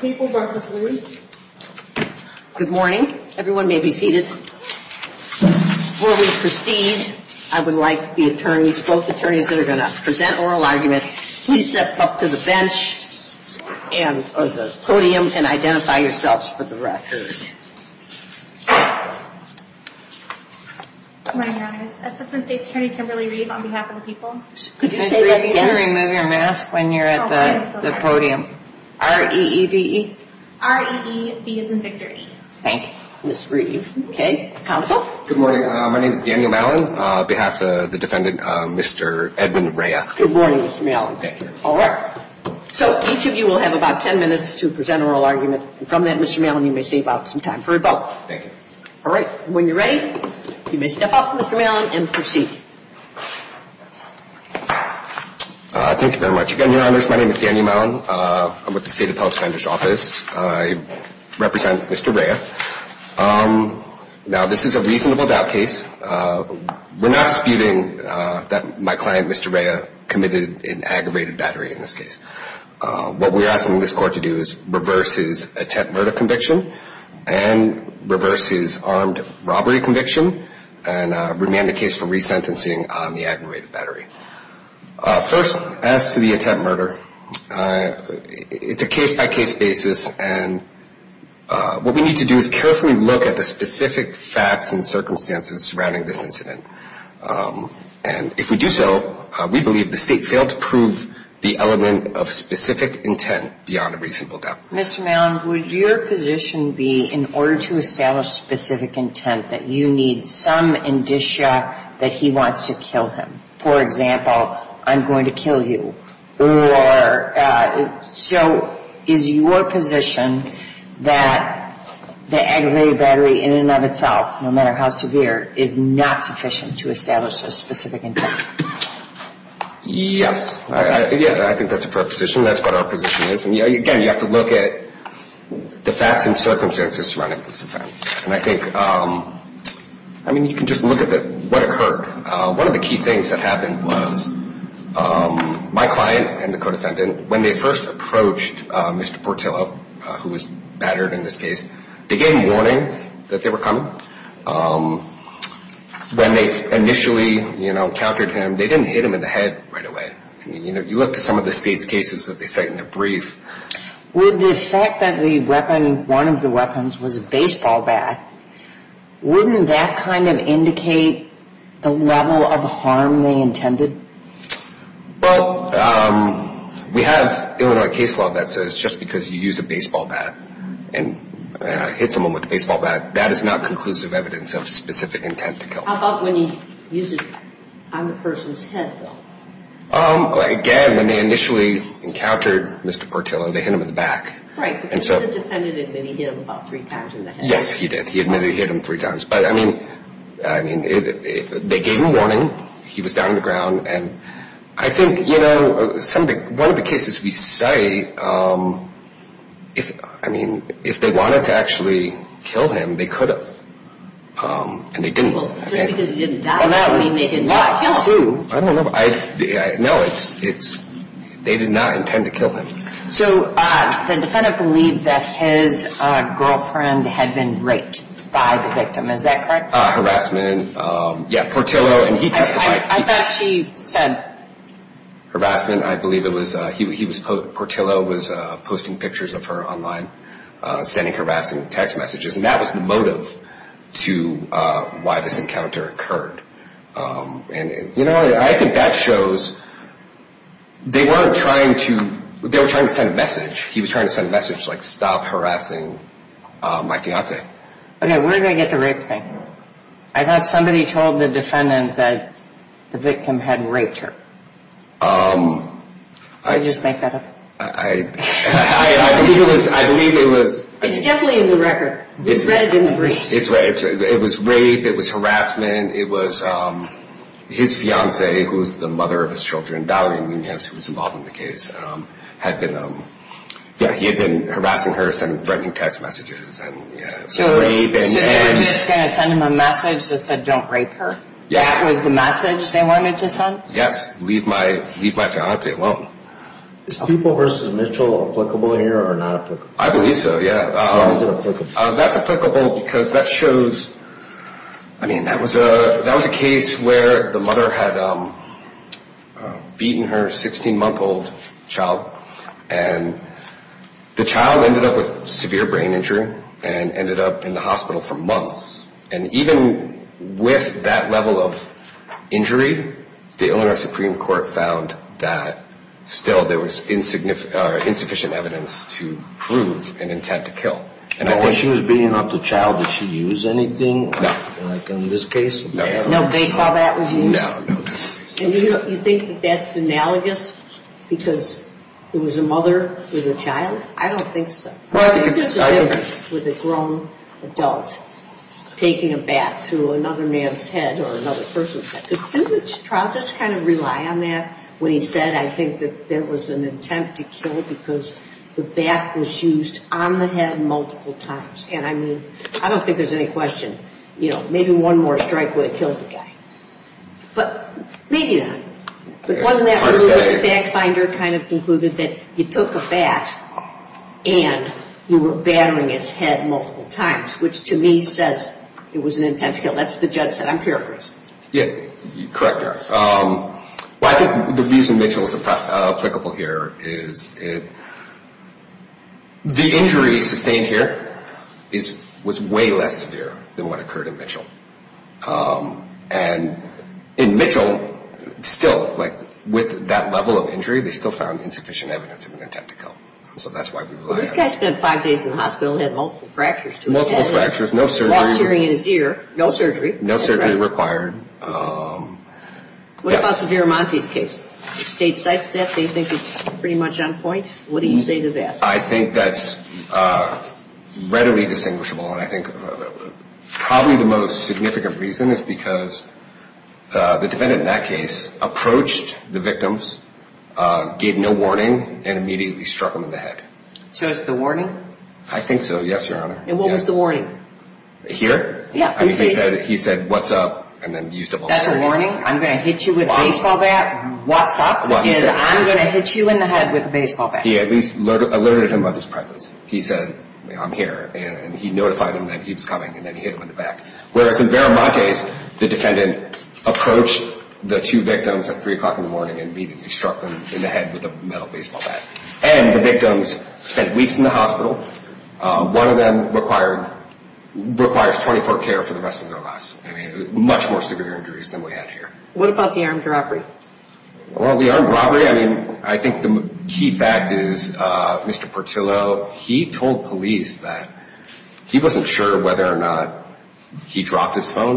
Good morning. Everyone proceed. I would like t up to the bench and the p yourselves for the record people. Remove your mask R. E. E. V. E. R. E. E. Thank you, Mr Reeve. O morning. My name is Daniel defendant, Mr Edmund Rea. Thank you. All right. So about 10 minutes to presen from that, Mr Mellon, you time for a vote. Thank yo you're ready, you may ste proceed. Thank you very m My name is Danny Mellon. Publix vendors office. I Um, now this is a reasona not spewing that my clien in aggravated battery. In asking this court to do i murder conviction and rev conviction and remain the aggravated battery. Uh, f murder, uh, it's a case b we need to do is carefull facts and circumstances s Um, and if we do so, we b to prove the element of s a reasonable doubt. Mr Me be in order to establish intent that you need some wants to kill him. For ex kill you. Or uh, so is yo aggravated battery in and how severe is not suffic a specific intent? Yes. Y proposition. That's what again, you have to look a surrounding this offense you can just look at what the key things that happe and the co defendant when uh, Mr Portillo, who is b They gave me warning that Um, when they initially e they didn't hit him in th I mean, you know, you loo cases that they say in th with the fact that the we weapons was a baseball ba of indicate the level of But, um, we have Illinois just because you use a ba hit someone with a baseba conclusive evidence of sp kill. How about when he u head? Um, again, when the Mr Portillo, they hit him And so the defendant admi times. Yes, he did. He ad times. But I mean, I mean He was down on the ground know something, one of th Um, if I mean, if they wa him, they could have, um, because he didn't die. No I don't know. No, it's, i to kill him. So the defen his girlfriend had been r Is that correct? Harassmen he testified. I thought s I believe it was, he was pictures of her online, s messages. And that was th encounter occurred. Um, a that shows they weren't t trying to send a message. send a message like stop Okay, where did I get the somebody told the defenda had raped her. Um, I just I believe it was, I belie in the record. It's reddi It was rape. It was haras fiance, who is the mother Valerie Munoz, who was in had been, um, yeah, he ha her sending threatening t So they were just going t that said, don't rape her they wanted to send? Yes, alone. Is people versus M here or not? I believe so because that shows, I mea a case where the mother h month old child and the c brain injury and ended up months. And even with tha the Illinois Supreme Court that still there was insi evidence to prove an inte when she was being up the anything like in this cas was used. You think that' it was a mother with a chi Well, it's with a grown a to another man's head or was that the sentence? Tr on that when he said, I t an attempt to kill becaus on the head multiple time think there's any questio one more strike would've maybe not. But wasn't th of concluded that you too were battering his head m to me says it was an inte I'm paraphrasing. Yeah, c the reason Mitchell is ap it. The injury sustained less severe than what occ in Mitchell still like wi They still found insuffic attempt to kill. So that' spent five days in the ho fractures, multiple fractu hearing in his ear, no su required. Um, what about state cites that they thi on point. What do you say that's uh, readily distin probably the most signifi the defendant in that cas victims, gave no warning struck him in the head, c think so. Yes, your hono the warning here. I mean, up and then used a warnin you with a baseball bat. I'm going to hit you in t back. He at least alerte He said, I'm here and he coming and then he hit hi in Vermont days, the defe immediately struck in the baseball bat and the vict in the hospital. One of t 24 care for the rest of t more severe injuries than about the armed robbery? I mean, I think the key f He told police that he wa or not he dropped his pho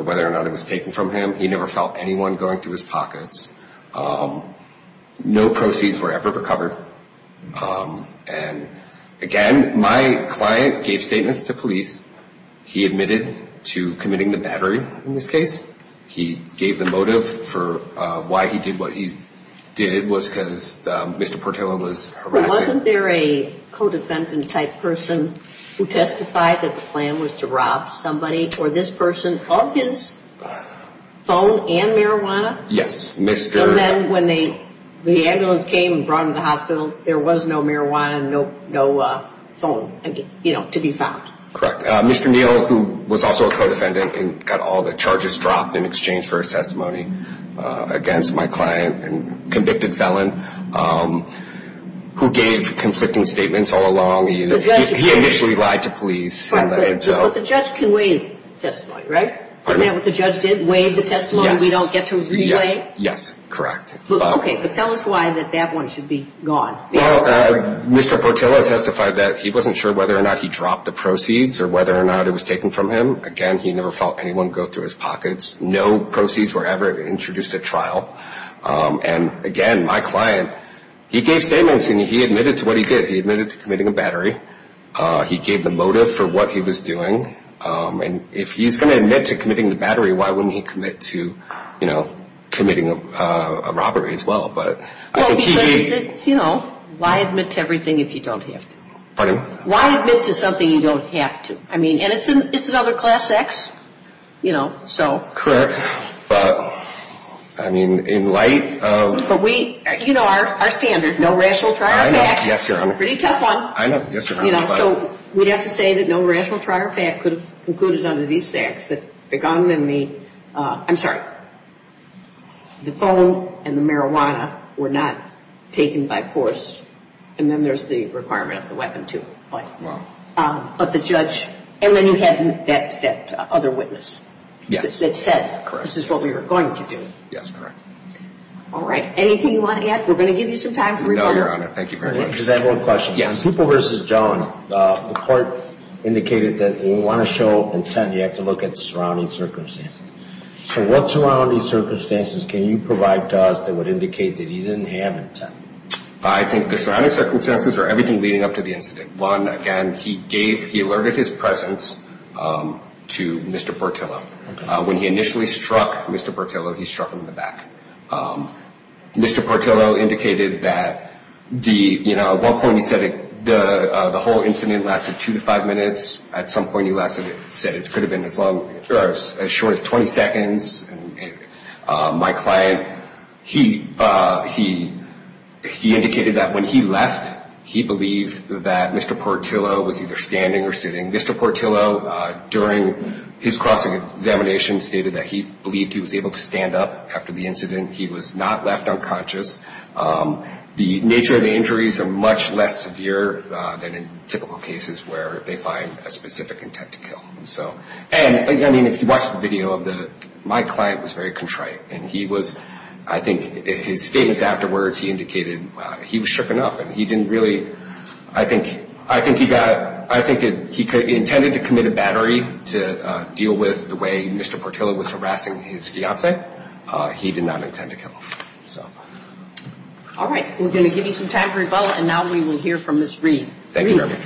it was taken from him. He going through his pockets Um, no proceeds were ever my client gave statements committing the battery. I the motive for why he did because Mr Portillo was h co defendant type person the plan was to rob someb his phone and marijuana. the ambulance came and br there was no marijuana, n to be found. Mr Neil, who and got all the charges d for a testimony against m felon. Um, who gave confl along. He initially lied the judge can raise testi the judge did waive the t to relay. Yes, correct. O that that one should be g testified that he wasn't he dropped the proceeds o taken from him again. He go through his pockets. N introduced a trial. Um, a he gave statements and he he did. He admitted to co battery. Uh, he gave the doing. Um, and if he's go the battery, why wouldn't committing a robbery as w you know, why admit every have to pardon? Why admit don't have to, I mean, an class X, you know, so cor in light of, but we, you no rational trial. Yes, y one. I know. So we have t trial fact could have conc that the gun and the, I'm and the marijuana were no then there's the requireme But, um, but the judge an that other witness that s we were going to do. Yes, you want to get, we're go time. No, Your Honor. Than one question. Yes. People indicated that we want to have to look at the surrou what surrounding circumst to us that would indicate intent? I think the surrou everything leading up to he gave, he alerted his p when he initially struck struck him in the back. U that the, you know, at one whole incident lasted 2-5 he lasted, said it could as short as 20 seconds. U he, he, he indicated that Mr Portillo during his cr that he believed he was a the incident. He was not The nature of the injuries than in typical cases wher intent to kill. So, and I video of the, my client w and he was, I think his s he indicated he was shook really, I think, I think could, intended to commit to deal with the way Mr P his fiance. Uh, he did no So, all right, we're goin very well. And now we wil Thank you very much.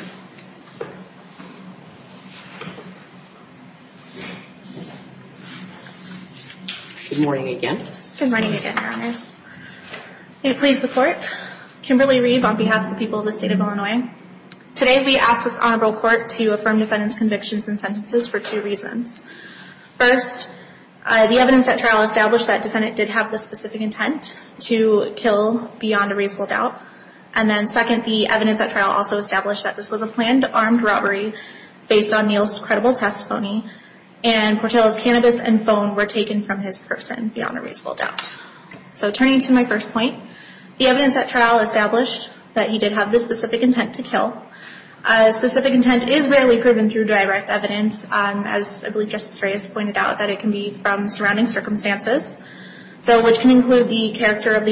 Good morning again, your hono Kimberly Reeve on behalf State of Illinois. Today Honorable Court to affirm and sentences for two rea evidence at trial establi have the specific intent doubt. And then second, t also established that thi robbery based on Neil's c and Portillo's cannabis a from his person beyond a turning to my first point trial established that he intent to kill. Uh, speci proven through direct evi justice raised, pointed o from surrounding circumst include the character of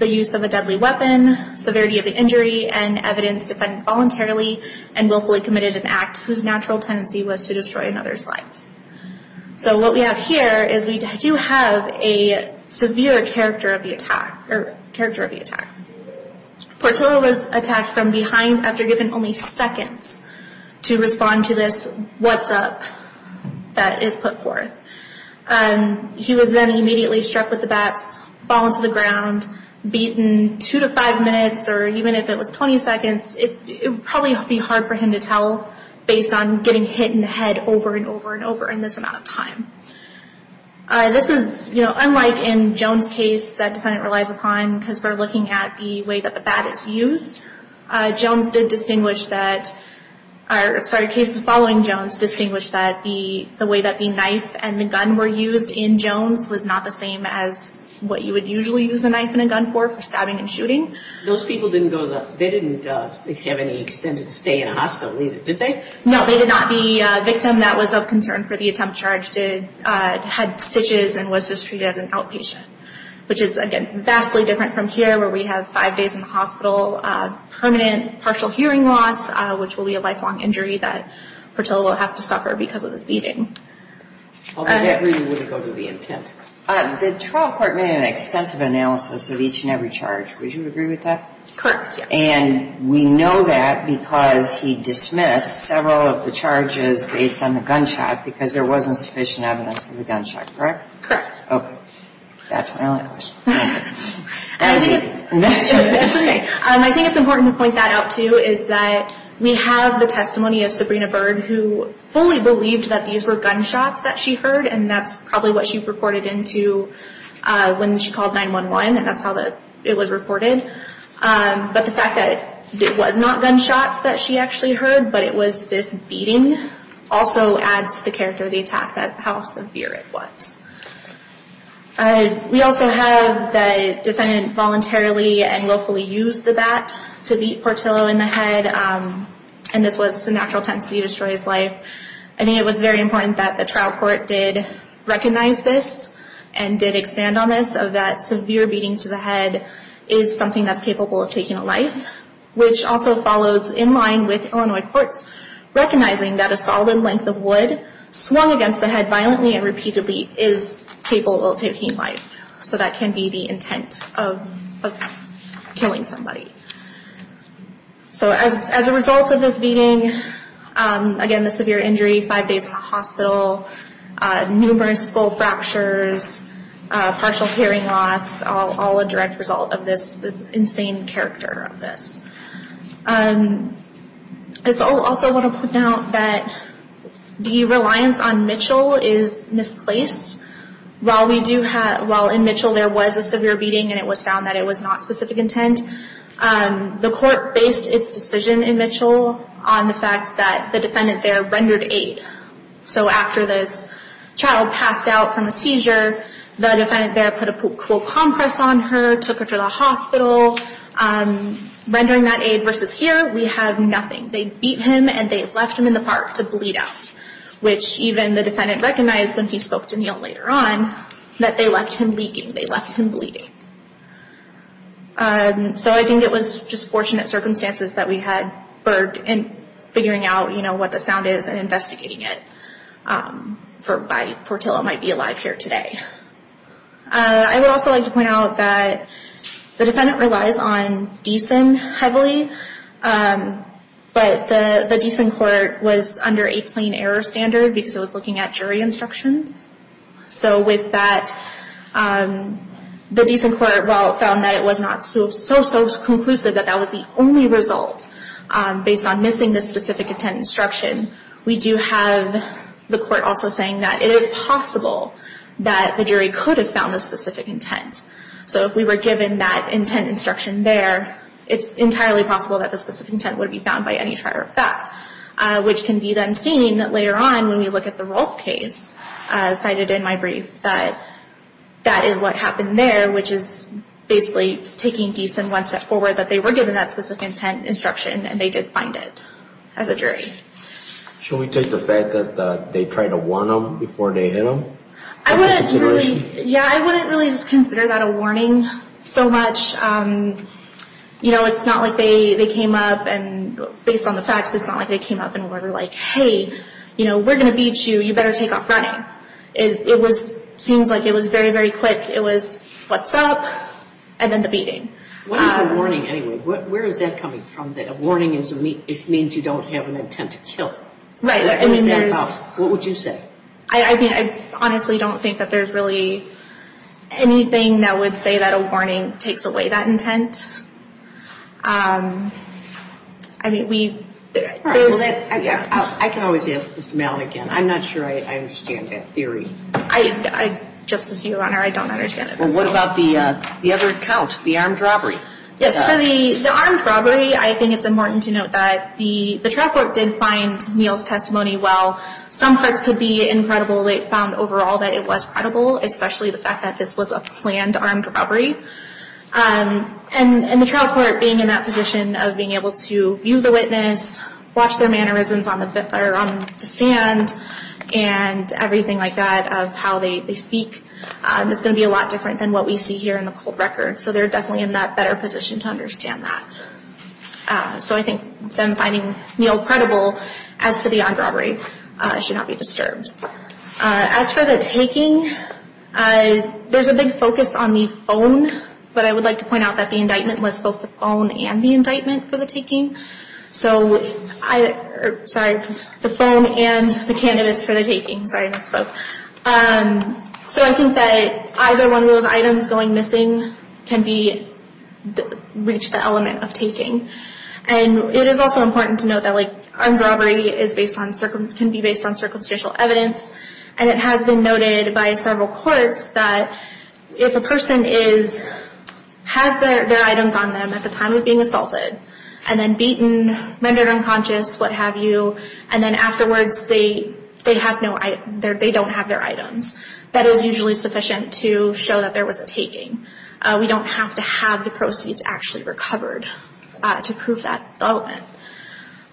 of a deadly weapon, sever and evidence defended vol committed an act whose na to destroy another's life is we do have a severe cha of the attack or character was attacked from behind to respond to this. What' forth. Um, he was then im the bats fall into the gr minutes or even if it was be hard for him to tell b in the head over and over amount of time. Uh, this know, unlike in jones cas upon because we're lookin the baddest used jones di are sorry, cases followin that the way that the kni used in jones was not the usually use a knife and a and shooting. Those peopl they didn't have any exte with it. Did they? No, th that was of concern for t uh, had stitches and was outpatient, which is agai from here where we have f uh, permanent partial hea will be a lifelong injury to suffer because of this reading would go to the i court made an extensive a And we know that because of the charges based on t sufficient evidence of th Correct. Okay, that's my important to point that o the testimony of Sabrina that these were gunshots that's probably what she she called 911 and that's Um, but the fact that it that she actually heard, this beating also adds to that how severe it was. U voluntarily and willfully Portillo in the head. Um, intensity destroys life. important that the trial this and did expand on th beating to the head is so of taking a life, which a Illinois courts recognizi length of wood swung agai and repeatedly is capable So that can be the intent So as a result of this be injury, five days in the skull fractures, partial a direct result of this i I also want to put out th Mitchell is misplaced whi in Mitchell there was a s it was found that it was Um, the court based its d on the fact that the defen aid. So after this child seizure, the defendant th compress on her, took her um, rendering that aid ve nothing. They beat him an the park to bleed out, wh recognized when he spoke they left him leaking. Th Um, so I think it was jus that we had burped and fi what the sound is and inv by Portillo might be aliv today. Uh, I would also l that the defendant relies Um, but the decent court error standard because it instructions. So with tha well found that it was no that that was the only re missing the specific intent do have the court also sa possible that the jury co intent. So if we were giv there, it's entirely poss intent would be found by can be then seen later on the role case cited in my is what happened there, w taking decent one step fo given that specific intent did find it as a jury. Sh the fact that they try to hit them? I wouldn't reall just consider that a warn know, it's not like they on the facts, it's not li order like, hey, you know you, you better take off like it was very, very qu and then the beating. What Where is that coming from to me, it means you don't intent to kill. Right. I would you say? I mean, I that there's really anyth that a warning takes away mean, we, I can always as I'm not sure I understand you on her. I don't under the other account, the ar for the armed robbery. I to note that the trial co testimony. Well, some par they found overall that i the fact that this was a Um, and the trial court b of being able to view the mannerisms on the, on the like that of how they spe be a lot different than w in the cold record. So th to understand that. Uh, s Neil credible as to the o be disturbed. Uh, as for a big focus on the phone, to point out that the ind the phone and the indictm So I, sorry, the phone an taking science. So, um, s one of those items going the element of taking. An to note that like armed r can be based on circumsta it has been noted by seve a person is, has their it the time of being assaulted rendered unconscious, wha afterwards, they have no, have their items. That is to show that there was a have to have the proceeds to prove that element.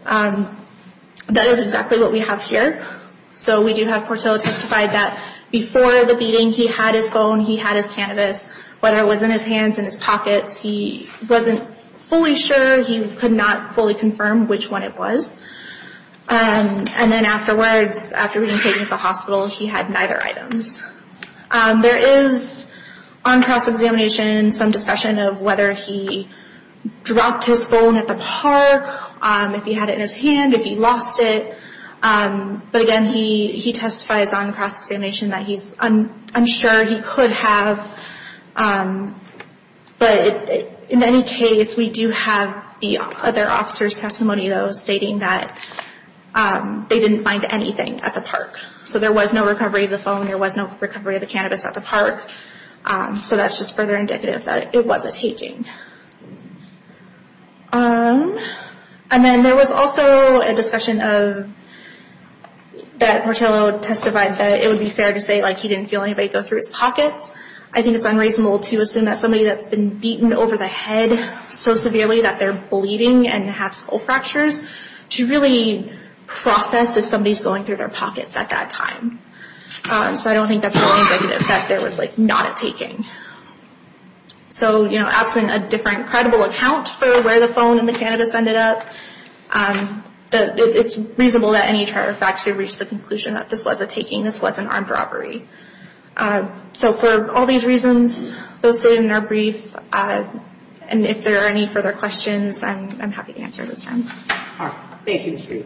Um what we have here. So we that before the beating h had his cannabis, whether in his pockets, he wasn't not fully confirmed which And then afterwards, afte the hospital, he had neith is on cross examination, of whether he dropped his Um, if he had it in his h Um, but again, he, he tes that he's unsure he could in any case, we do have t stating that, um, they di at the park. So there was phone, there was no recov at the park. Um, so that' that it wasn't taking. Um also a discussion of that that it would be fair to feel anybody go through h it's unreasonable to assum been beaten over the head that they're bleeding and to really process if some their pockets at that tim that's the only negative taking. So, you know, abs credible account for wher cannabis ended up. Um, it any charter factory reach this was a taking, this w Uh, so for all these reaso brief. Uh, and if there a I'm, I'm happy to answer you. Mr. Thank you. Mr.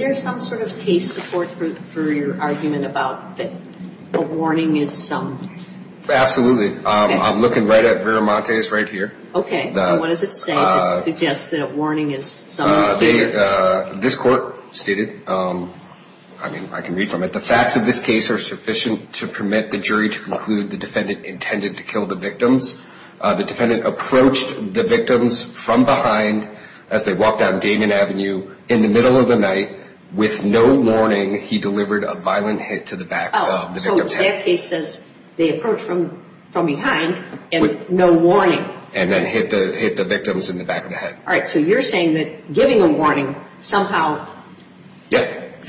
M some sort of case support about that? The warning i I'm looking right at very what does it say? Suggest Uh, this court stated, um from it. The facts of thi to permit the jury to conc intended to kill the vict approached the victims fr walked down Damien Avenue of the night with no warni a violent hit to the back says they approach from f no warning and then hit t in the back of the head. saying that giving a warn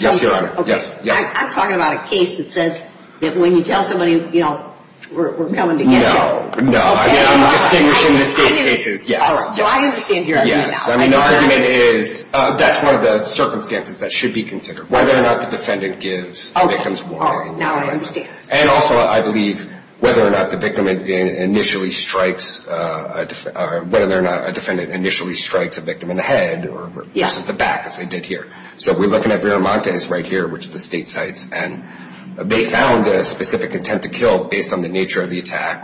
Yes, Your Honor. Yes. I'm case that says that when you know, we're coming to the state's cases. Yes. Y Yes. I mean, the argument the circumstances that sh whether or not the defend warning. And also I belie whether or not the victim uh, whether or not a defen a victim in the head or j they did here. So we're l right here, which the sta found a specific intent t the nature of the attack,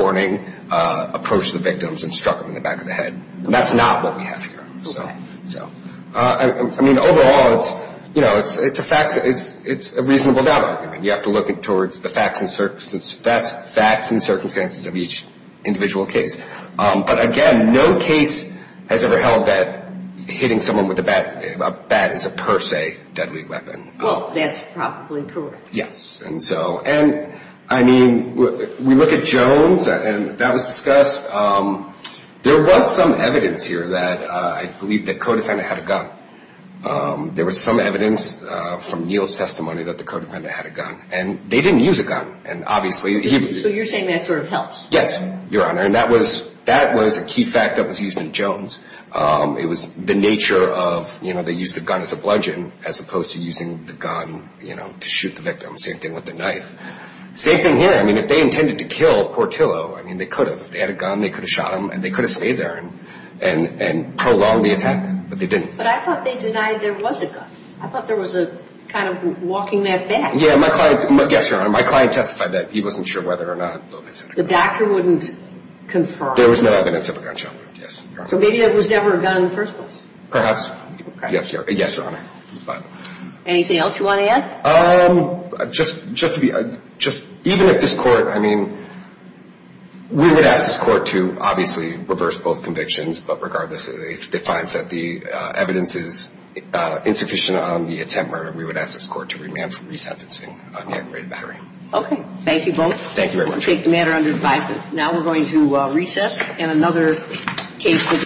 warning, uh, approached t them in the back of the h we have here. So, so, I m you know, it's, it's a fa doubt. You have to look t that's facts and circumst case. Um, but again, no c that hitting someone with a per se deadly weapon. W correct. Yes. And so, and at Jones and that was dis some evidence here that I had a gun. Um, there was Neal's testimony that the had a gun and they didn't obviously. So you're sayi Yes, your honor. And that key fact that was used in the nature of, you know, a bludgeon as opposed to to shoot the victim. Same Same thing here. I mean, to kill Portillo, I mean, had a gun, they could have could have stayed there a attack, but they didn't. there was a gun. I thought kind of walking that back client testified that he or not. The doctor wouldn evidence of a gunshot. Ye was never a gun in the fi Yes, your honor. But anyt to add? Um, just, just to court, I mean, we would a reverse both convictions. it finds that the evidenc on the attempt murder. We to remand for resentencing Okay. Thank you both. Tha